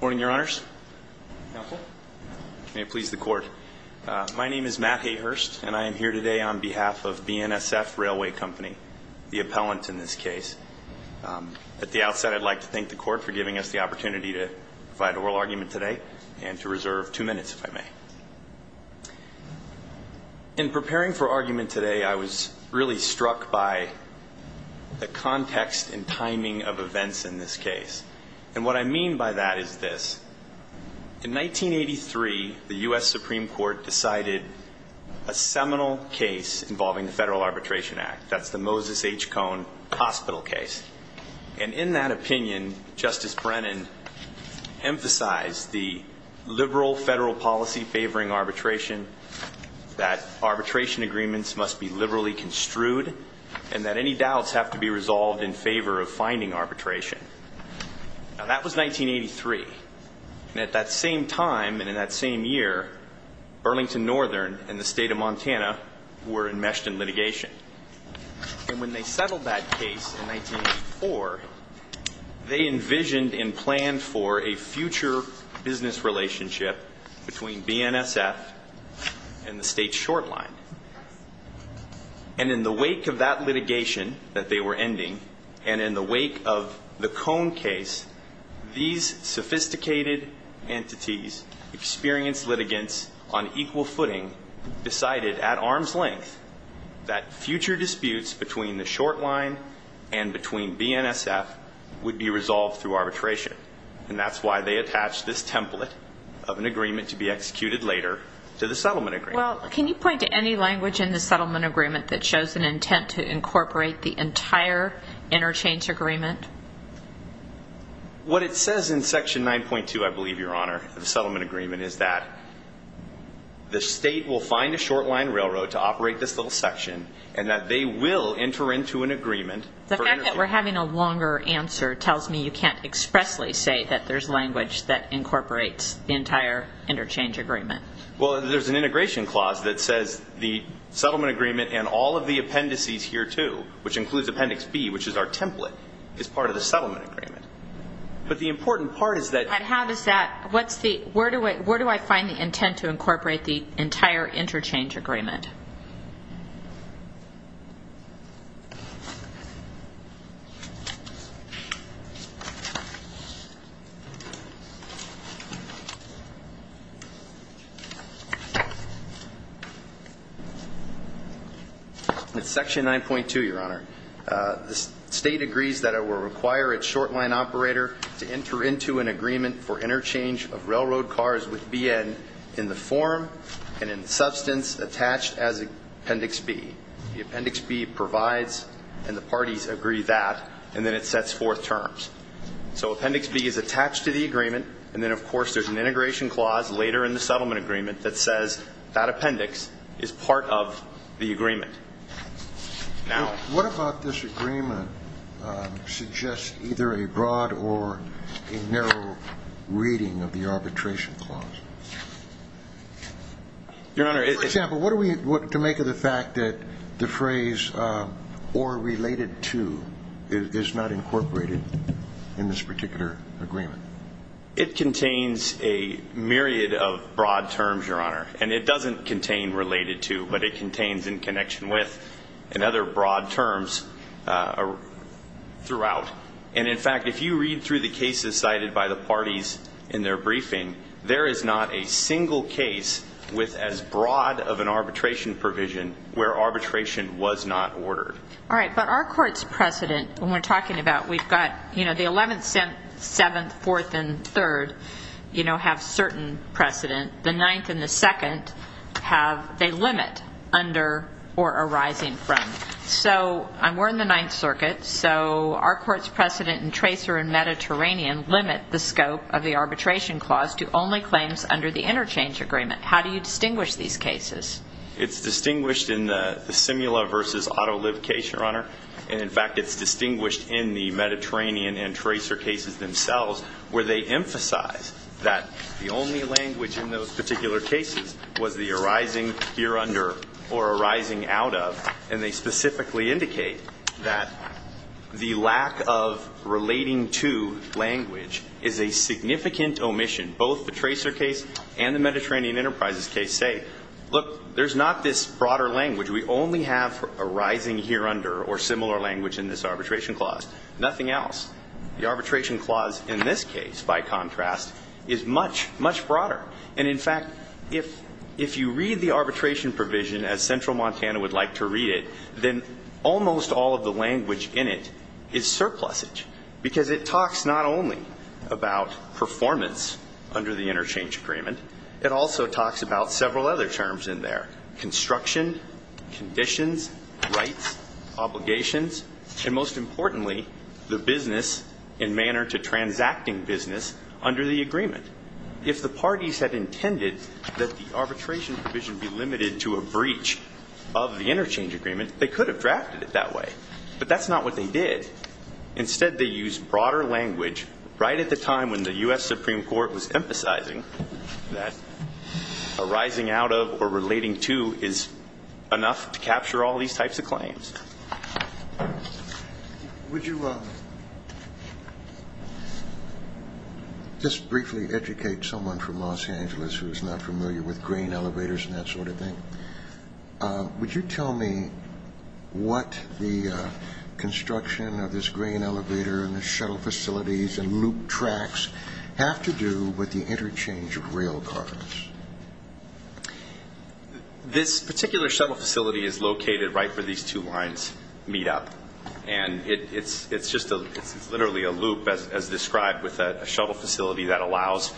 Morning, your honors. May it please the court. My name is Matt Hayhurst and I am here today on behalf of BNSF Railway Company, the appellant in this case. At the outset, I'd like to thank the court for giving us the opportunity to provide oral argument today and to reserve two minutes, if I may. In preparing for argument today, I was really struck by the context and timing of events in this case. And what I mean by that is this. In 1983, the U.S. Supreme Court decided a seminal case involving the Federal Arbitration Act. That's the Moses H. Cohn hospital case. And in that opinion, Justice Brennan emphasized the liberal federal policy favoring arbitration, that arbitration agreements must be liberally construed, and that any doubts have to be resolved in favor of finding arbitration. Now, that was 1983. And at that same time and in that same year, Burlington Northern and the state of Montana were enmeshed in litigation. And when they settled that case in 1984, they envisioned and planned for a future business relationship between BNSF and the state's short line. And in the wake of that litigation that they were ending, and in the wake of the Cohn case, these sophisticated entities, experienced litigants on equal footing, decided at arm's length that future disputes between the short line and between BNSF would be resolved through arbitration. And that's why they attached this template of an agreement to be executed later to the settlement agreement. Well, can you point to any language in the settlement agreement that shows an intent to incorporate the entire interchange agreement? What it says in section 9.2, I believe, Your Honor, the settlement agreement, is that the state will find a short line railroad to operate this little section, and that they will enter into an agreement. The fact that we're having a longer answer tells me you can't expressly say that there's language that incorporates the entire interchange agreement. Well, there's an integration clause that says the settlement agreement and all of the appendices here, too, which includes Appendix B, which is our template, is part of the settlement agreement. But the important part is that... I have is that, where do I find the intent to incorporate the entire interchange agreement? In section 9.2, Your Honor, the state agrees that it will require its short line operator to enter into an agreement for interchange of railroad cars with BN in the form and in substance attached as Appendix B. The Appendix B provides, and the parties agree that, and then it sets forth terms. So Appendix B is attached to the agreement, and then, of course, there's an integration clause later in the settlement agreement that says that appendix is part of the agreement. Now... What about this agreement suggests either a broad or a narrow reading of the arbitration clause? Your Honor, it... For example, what do we want to make of the fact that the phrase or related to is not incorporated in this particular agreement? It contains a myriad of broad terms, Your Honor, and it doesn't contain related to, but it contains in connection with and other broad terms throughout. And, in fact, if you read through the cases cited by the parties in their briefing, there is not a single case with as broad of an arbitration provision where arbitration was not ordered. All right, but our court's precedent, when we're talking about, we've got, you know, the 11th, 7th, 4th, and 3rd, you know, have certain precedent. The 9th and the 2nd have a limit under or arising from. So, we're in the 9th Circuit, so our court's precedent in Tracer and Mediterranean limit the scope of the arbitration clause to only claims under the interchange agreement. How do you distinguish these cases? It's distinguished in the Simula versus AutoLib case, Your Honor. And, in fact, it's distinguished in the Mediterranean and Tracer cases themselves where they emphasize that the only language in those particular cases was the arising here under or arising out of. And they specifically indicate that the lack of relating to language is a significant omission. Both the Tracer case and the Mediterranean Enterprises case say, look, there's not this broader language. We only have arising here under or similar language in this arbitration clause. Nothing else. The arbitration clause in this case, by contrast, is much, much broader. And, in fact, if you read the arbitration provision as Central Montana would like to read it, then almost all of the language in it is surplusage. Because it talks not only about performance under the interchange agreement. It also talks about several other terms in there. Construction, conditions, rights, obligations, and, most importantly, the business and manner to transacting business under the agreement. If the parties had intended that the arbitration provision be limited to a breach of the interchange agreement, they could have drafted it that way. But that's not what they did. Instead, they used broader language right at the time when the U.S. Supreme Court was emphasizing that arising out of or relating to is enough to capture all these types of claims. Would you just briefly educate someone from Los Angeles who is not familiar with grain elevators and that sort of thing? Would you tell me what the construction of this grain elevator and the shuttle facilities and loop tracks have to do with the interchange of rail cars? This particular shuttle facility is located right where these two lines meet up. And it's literally a loop as described with a shuttle facility that allows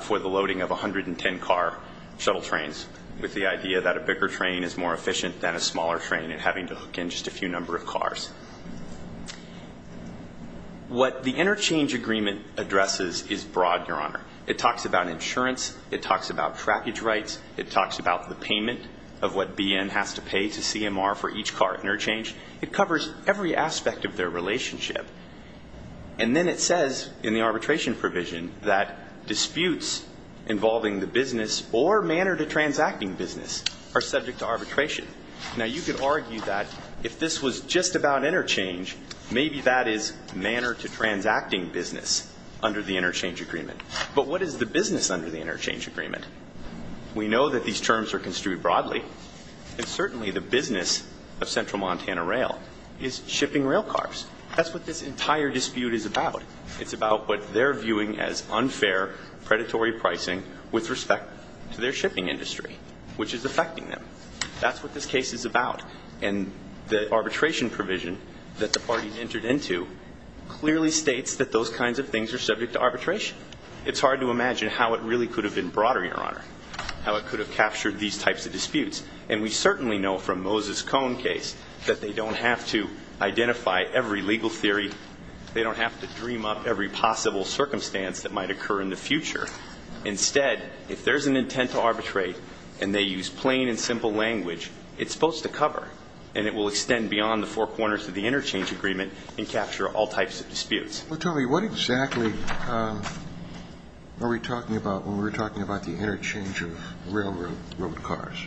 for the loading of 110-car shuttle trains with the idea that a bigger train is more efficient than a smaller train and having to hook in just a few number of cars. What the interchange agreement addresses is broad, Your Honor. It talks about insurance. It talks about trackage rights. It talks about the payment of what BM has to pay to CMR for each car interchange. It covers every aspect of their relationship. And then it says in the arbitration provision that disputes involving the business or manner to transacting business are subject to arbitration. Now, you could argue that if this was just about interchange, maybe that is manner to transacting business under the interchange agreement. But what is the business under the interchange agreement? We know that these terms are construed broadly. And certainly the business of Central Montana Rail is shipping rail cars. That's what this entire dispute is about. It's about what they're viewing as unfair, predatory pricing with respect to their shipping industry, which is affecting them. That's what this case is about. And the arbitration provision that the parties entered into clearly states that those kinds of things are subject to arbitration. It's hard to imagine how it really could have been broader, Your Honor, how it could have captured these types of disputes. And we certainly know from Moses Cone case that they don't have to identify every legal theory. They don't have to dream up every possible circumstance that might occur in the future. Instead, if there's an intent to arbitrate and they use plain and simple language, it's supposed to cover and it will extend beyond the four corners of the interchange agreement and capture all types of disputes. Well, tell me, what exactly are we talking about when we're talking about the interchange of railroad cars?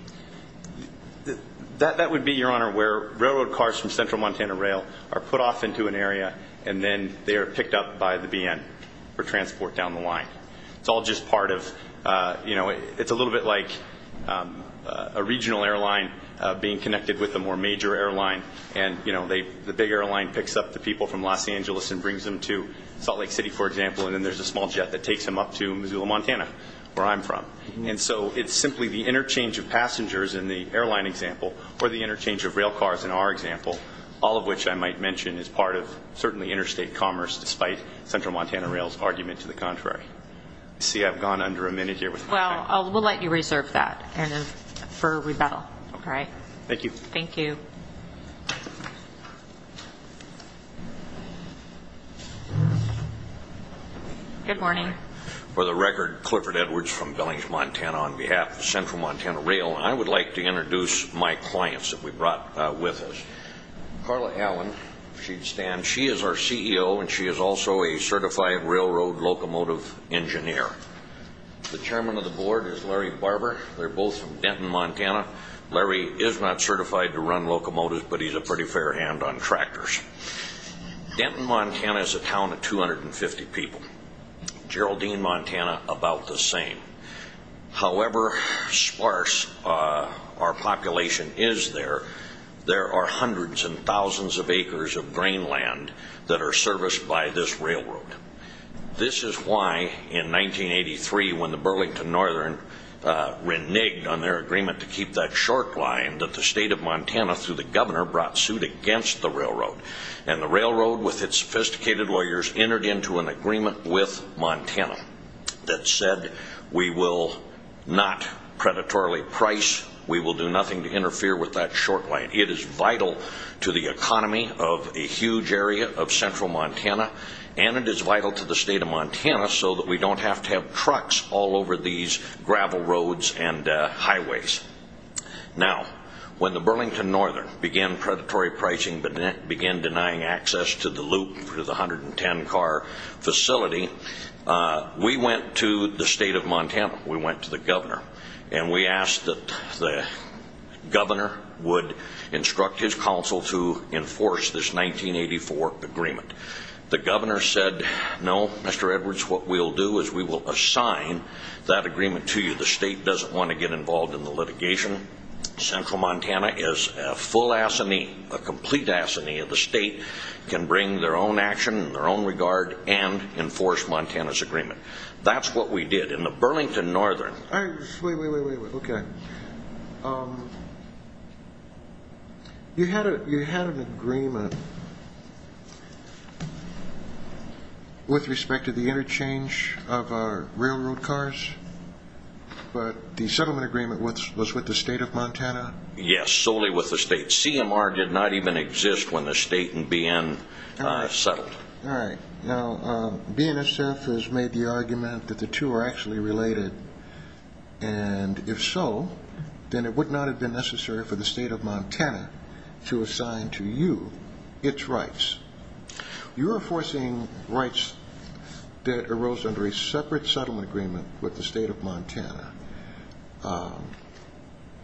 That would be, Your Honor, where railroad cars from Central Montana Rail are put off into an area and then they are picked up by the BN for transport down the line. It's all just part of, you know, it's a little bit like a regional airline being connected with a more major airline. And, you know, the big airline picks up the people from Los Angeles and brings them to Salt Lake City, for example, and then there's a small jet that takes them up to Missoula, Montana, where I'm from. And so it's simply the interchange of passengers in the airline example or the interchange of rail cars in our example, all of which I might mention is part of certainly interstate commerce, despite Central Montana Rail's argument to the contrary. You see, I've gone under a minute here. Well, we'll let you reserve that for rebuttal. All right. Thank you. Thank you. Good morning. For the record, Clifford Edwards from Billings, Montana, on behalf of Central Montana Rail, I would like to introduce my clients that we brought with us. Carla Allen, if she'd stand. She is our CEO, and she is also a certified railroad locomotive engineer. The chairman of the board is Larry Barber. They're both from Denton, Montana. Larry is not certified to run locomotives, but he's a pretty fair hand on tractors. Denton, Montana is a town of 250 people. Geraldine, Montana, about the same. However sparse our population is there, there are hundreds and thousands of acres of grain land that are serviced by this railroad. This is why, in 1983, when the Burlington Northern reneged on their agreement to keep that short line, that the state of Montana, through the governor, brought suit against the railroad. And the railroad, with its sophisticated lawyers, entered into an agreement with Montana that said, we will not predatorily price, we will do nothing to interfere with that short line. It is vital to the economy of a huge area of Central Montana, and it is vital to the state of Montana so that we don't have to have trucks all over these gravel roads and highways. Now, when the Burlington Northern began predatory pricing, began denying access to the loop through the 110-car facility, we went to the state of Montana, we went to the governor, and we asked that the governor would instruct his council to enforce this 1984 agreement. The governor said, no, Mr. Edwards, what we'll do is we will assign that agreement to you. The state doesn't want to get involved in the litigation. Central Montana is a full assony, a complete assony of the state, can bring their own action in their own regard and enforce Montana's agreement. That's what we did. In the Burlington Northern... Wait, wait, wait, okay. You had an agreement with respect to the interchange of our railroad cars, but the settlement agreement was with the state of Montana? Yes, solely with the state. CMR did not even exist when the state and BN settled. All right. Now, BNSF has made the argument that the two are actually related, and if so, then it would not have been necessary for the state of Montana to assign to you its rights. You're enforcing rights that arose under a separate settlement agreement with the state of Montana.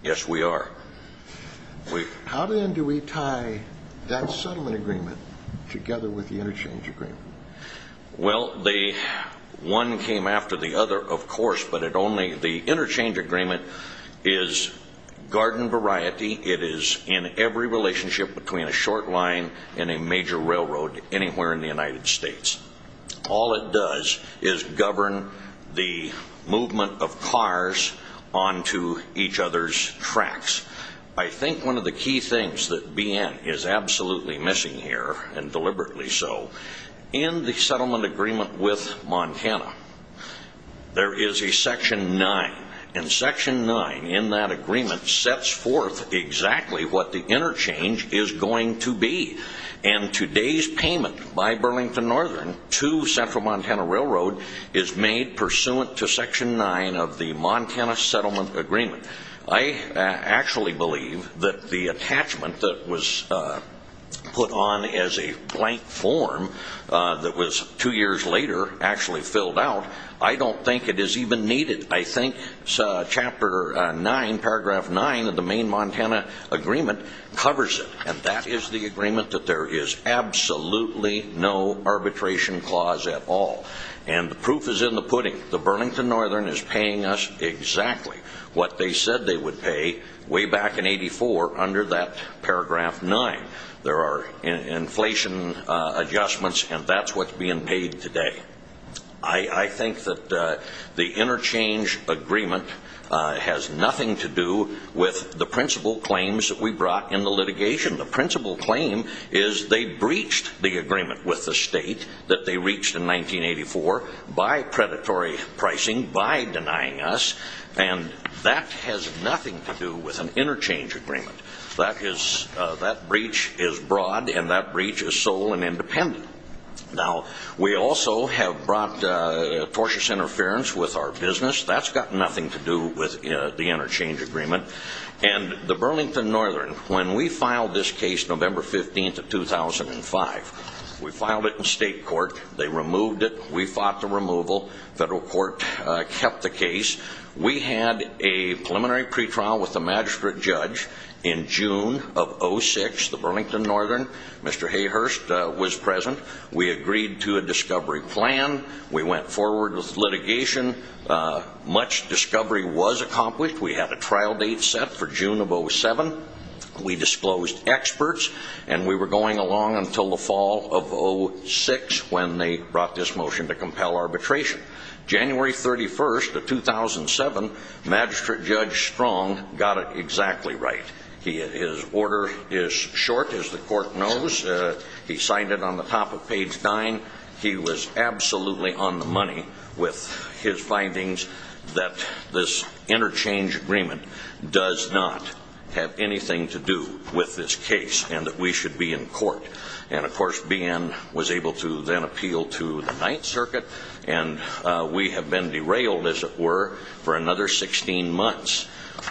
Yes, we are. How then do we tie that settlement agreement together with the interchange agreement? Well, one came after the other, of course, but the interchange agreement is garden variety. It is in every relationship between a short line and a major railroad anywhere in the United States. All it does is govern the movement of cars onto each other's tracks. I think one of the key things that BN is absolutely missing here, and deliberately so, in the settlement agreement with Montana, there is a Section 9, and Section 9 in that agreement sets forth exactly what the interchange is going to be. And today's payment by BN to Central Montana Railroad is made pursuant to Section 9 of the Montana Settlement Agreement. I actually believe that the attachment that was put on as a blank form that was two years later actually filled out, I don't think it is even needed. I think Chapter 9, Paragraph 9 of the Maine-Montana Agreement covers it, and that is the agreement that there is absolutely no arbitration clause at all. And the proof is in the pudding. The Burlington Northern is paying us exactly what they said they would pay way back in 1984 under that Paragraph 9. There are inflation adjustments, and that's what's being paid today. I think that the interchange agreement has nothing to do with the principal claims that we brought in the litigation. The principal claim is they breached the agreement with the state that they reached in 1984 by predatory pricing, by denying us, and that has nothing to do with an interchange agreement. That breach is broad, and that breach is sole and independent. Now, we also have brought tortious interference with our business. That's got nothing to do with the interchange agreement. And the Burlington Northern, when we filed this case November 15th of 2005, we filed it in state court. They removed it. We fought the removal. Federal court kept the case. We had a preliminary pretrial with the magistrate judge in June of 2006. The Burlington Northern, Mr. Hayhurst, was present. We agreed to a discovery plan. We went forward with litigation. Much discovery was accomplished. We had a trial date set for June of 07. We disclosed experts, and we were going along until the fall of 06 when they brought this motion to compel arbitration. January 31st of 2007, Magistrate Judge Strong got it exactly right. His order is short, as the court knows. He signed it on the top of page nine. He was absolutely on the money with his findings that this interchange agreement does not have anything to do with this case and that we should be in court. And, of course, BN was able to then appeal to the Ninth Circuit, and we have been derailed, as it were, for another 16 months.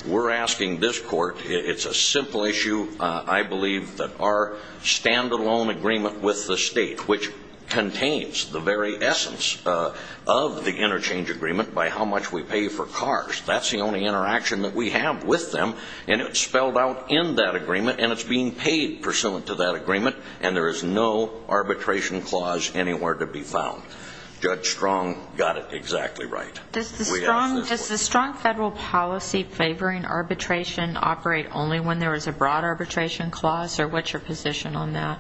We're asking this court, it's a simple issue, I believe, that our stand-alone agreement with the state, which contains the very essence of the interchange agreement by how much we pay for cars, that's the only interaction that we have with them, and it's spelled out in that agreement, and it's being paid pursuant to that agreement, and there is no arbitration clause anywhere to be found. Judge Strong got it exactly right. Does the strong federal policy favoring arbitration operate only when there is a broad arbitration clause, or what's your position on that?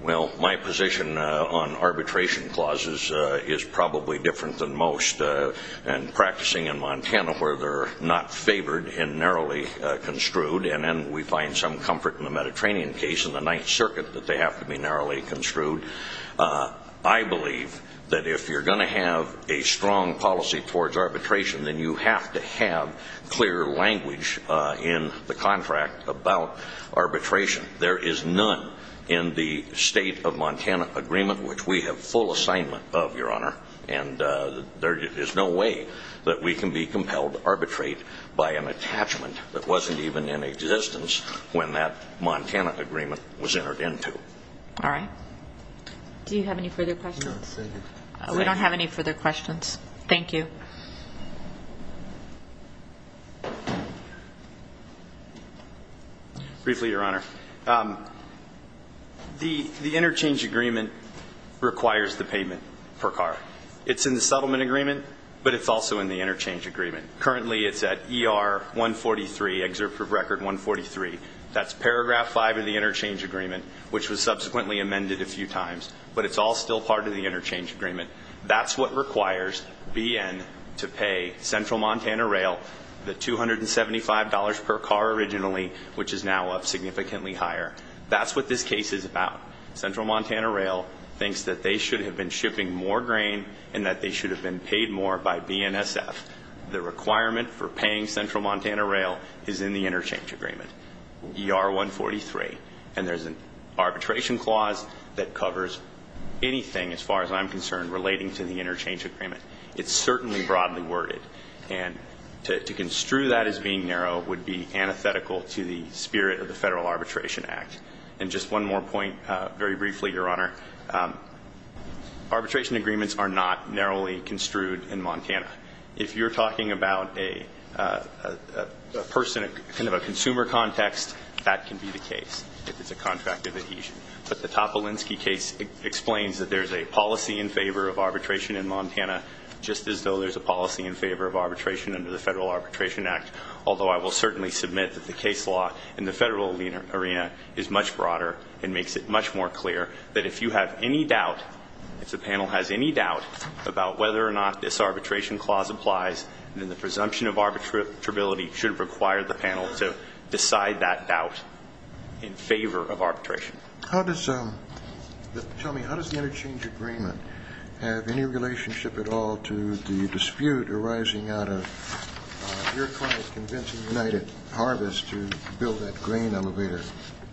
Well, my position on arbitration clauses is probably different than most, and practicing in Montana where they're not favored and narrowly construed, and then we find some comfort in the Mediterranean case and the Ninth Circuit that they have to be narrowly construed. I believe that if you're going to have a strong policy towards arbitration, then you have to have clear language in the contract about arbitration. There is none in the state of Montana agreement, which we have full assignment of, Your Honor, and there is no way that we can be compelled to arbitrate by an attachment that wasn't even in existence when that Montana agreement was entered into. All right. Do you have any further questions? No, thank you. We don't have any further questions. Thank you. Briefly, Your Honor, the interchange agreement requires the payment per car. It's in the settlement agreement, but it's also in the interchange agreement. Currently it's at ER 143, excerpt from record 143. That's paragraph 5 of the interchange agreement, which was subsequently amended a few times, but it's all still part of the interchange agreement. That's what requires BN to pay Central Montana Rail the $275 per car originally, which is now up significantly higher. That's what this case is about. Central Montana Rail thinks that they should have been shipping more grain and that they should have been paid more by BNSF. The requirement for paying Central Montana Rail is in the interchange agreement, ER 143, and there's an arbitration clause that covers anything, as far as I'm concerned, relating to the interchange agreement. It's certainly broadly worded, and to construe that as being narrow would be antithetical to the spirit of the Federal Arbitration Act. And just one more point very briefly, Your Honor. Arbitration agreements are not narrowly construed in Montana. If you're talking about a person, kind of a consumer context, that can be the case if it's a contract of adhesion. But the Topolinsky case explains that there's a policy in favor of arbitration in Montana, just as though there's a policy in favor of arbitration under the Federal Arbitration Act, although I will certainly submit that the case law in the federal arena is much broader and makes it much more clear that if you have any doubt, if the panel has any doubt about whether or not this arbitration clause applies, then the presumption of arbitrability should require the panel to decide that doubt in favor of arbitration. Tell me, how does the interchange agreement have any relationship at all to the dispute arising out of your client convincing United Harvest to build that grain elevator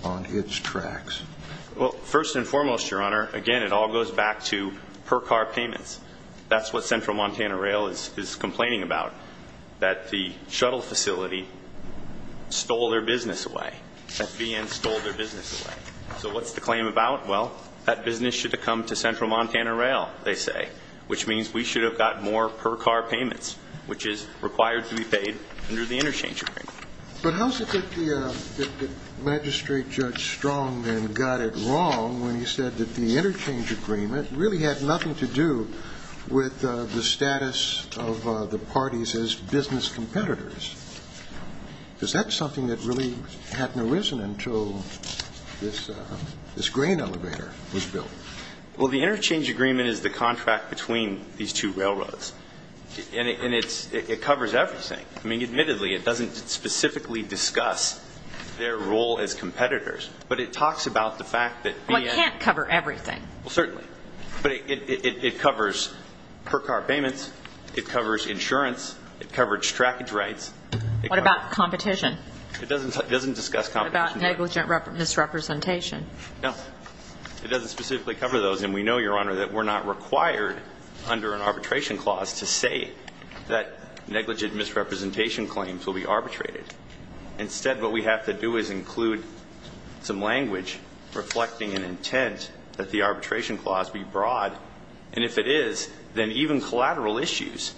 on its tracks? Well, first and foremost, Your Honor, again, it all goes back to per-car payments. That's what Central Montana Rail is complaining about, that the shuttle facility stole their business away. FBN stole their business away. So what's the claim about? Well, that business should have come to Central Montana Rail, they say, which means we should have gotten more per-car payments, which is required to be paid under the interchange agreement. But how is it that the magistrate, Judge Strongman, got it wrong when he said that the interchange agreement really had nothing to do with the status of the parties as business competitors? Is that something that really hadn't arisen until this grain elevator was built? Well, the interchange agreement is the contract between these two railroads. And it covers everything. I mean, admittedly, it doesn't specifically discuss their role as competitors, but it talks about the fact that the end of the day. Well, it can't cover everything. Well, certainly. But it covers per-car payments. It covers insurance. It covers trackage rights. What about competition? It doesn't discuss competition. What about negligent misrepresentation? No. It doesn't specifically cover those. And we know, Your Honor, that we're not required under an arbitration clause to say that negligent misrepresentation claims will be arbitrated. Instead, what we have to do is include some language reflecting an intent that the arbitration clause be broad. And if it is, then even collateral issues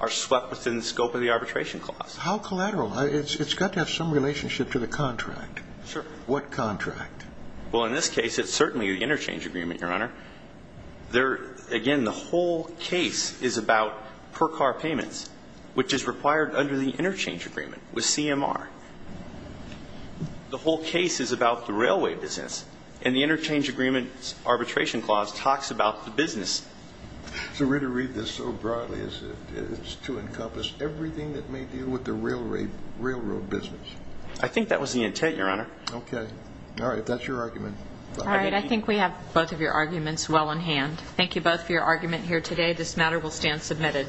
are swept within the scope of the arbitration clause. How collateral? It's got to have some relationship to the contract. Sure. What contract? Well, in this case, it's certainly the interchange agreement, Your Honor. Again, the whole case is about per-car payments, which is required under the interchange agreement with CMR. The whole case is about the railway business. And the interchange agreement's arbitration clause talks about the business. So we're to read this so broadly as to encompass everything that may deal with the railroad business. I think that was the intent, Your Honor. Okay. All right. If that's your argument. All right. I think we have both of your arguments well in hand. Thank you both for your argument here today. This matter will stand submitted.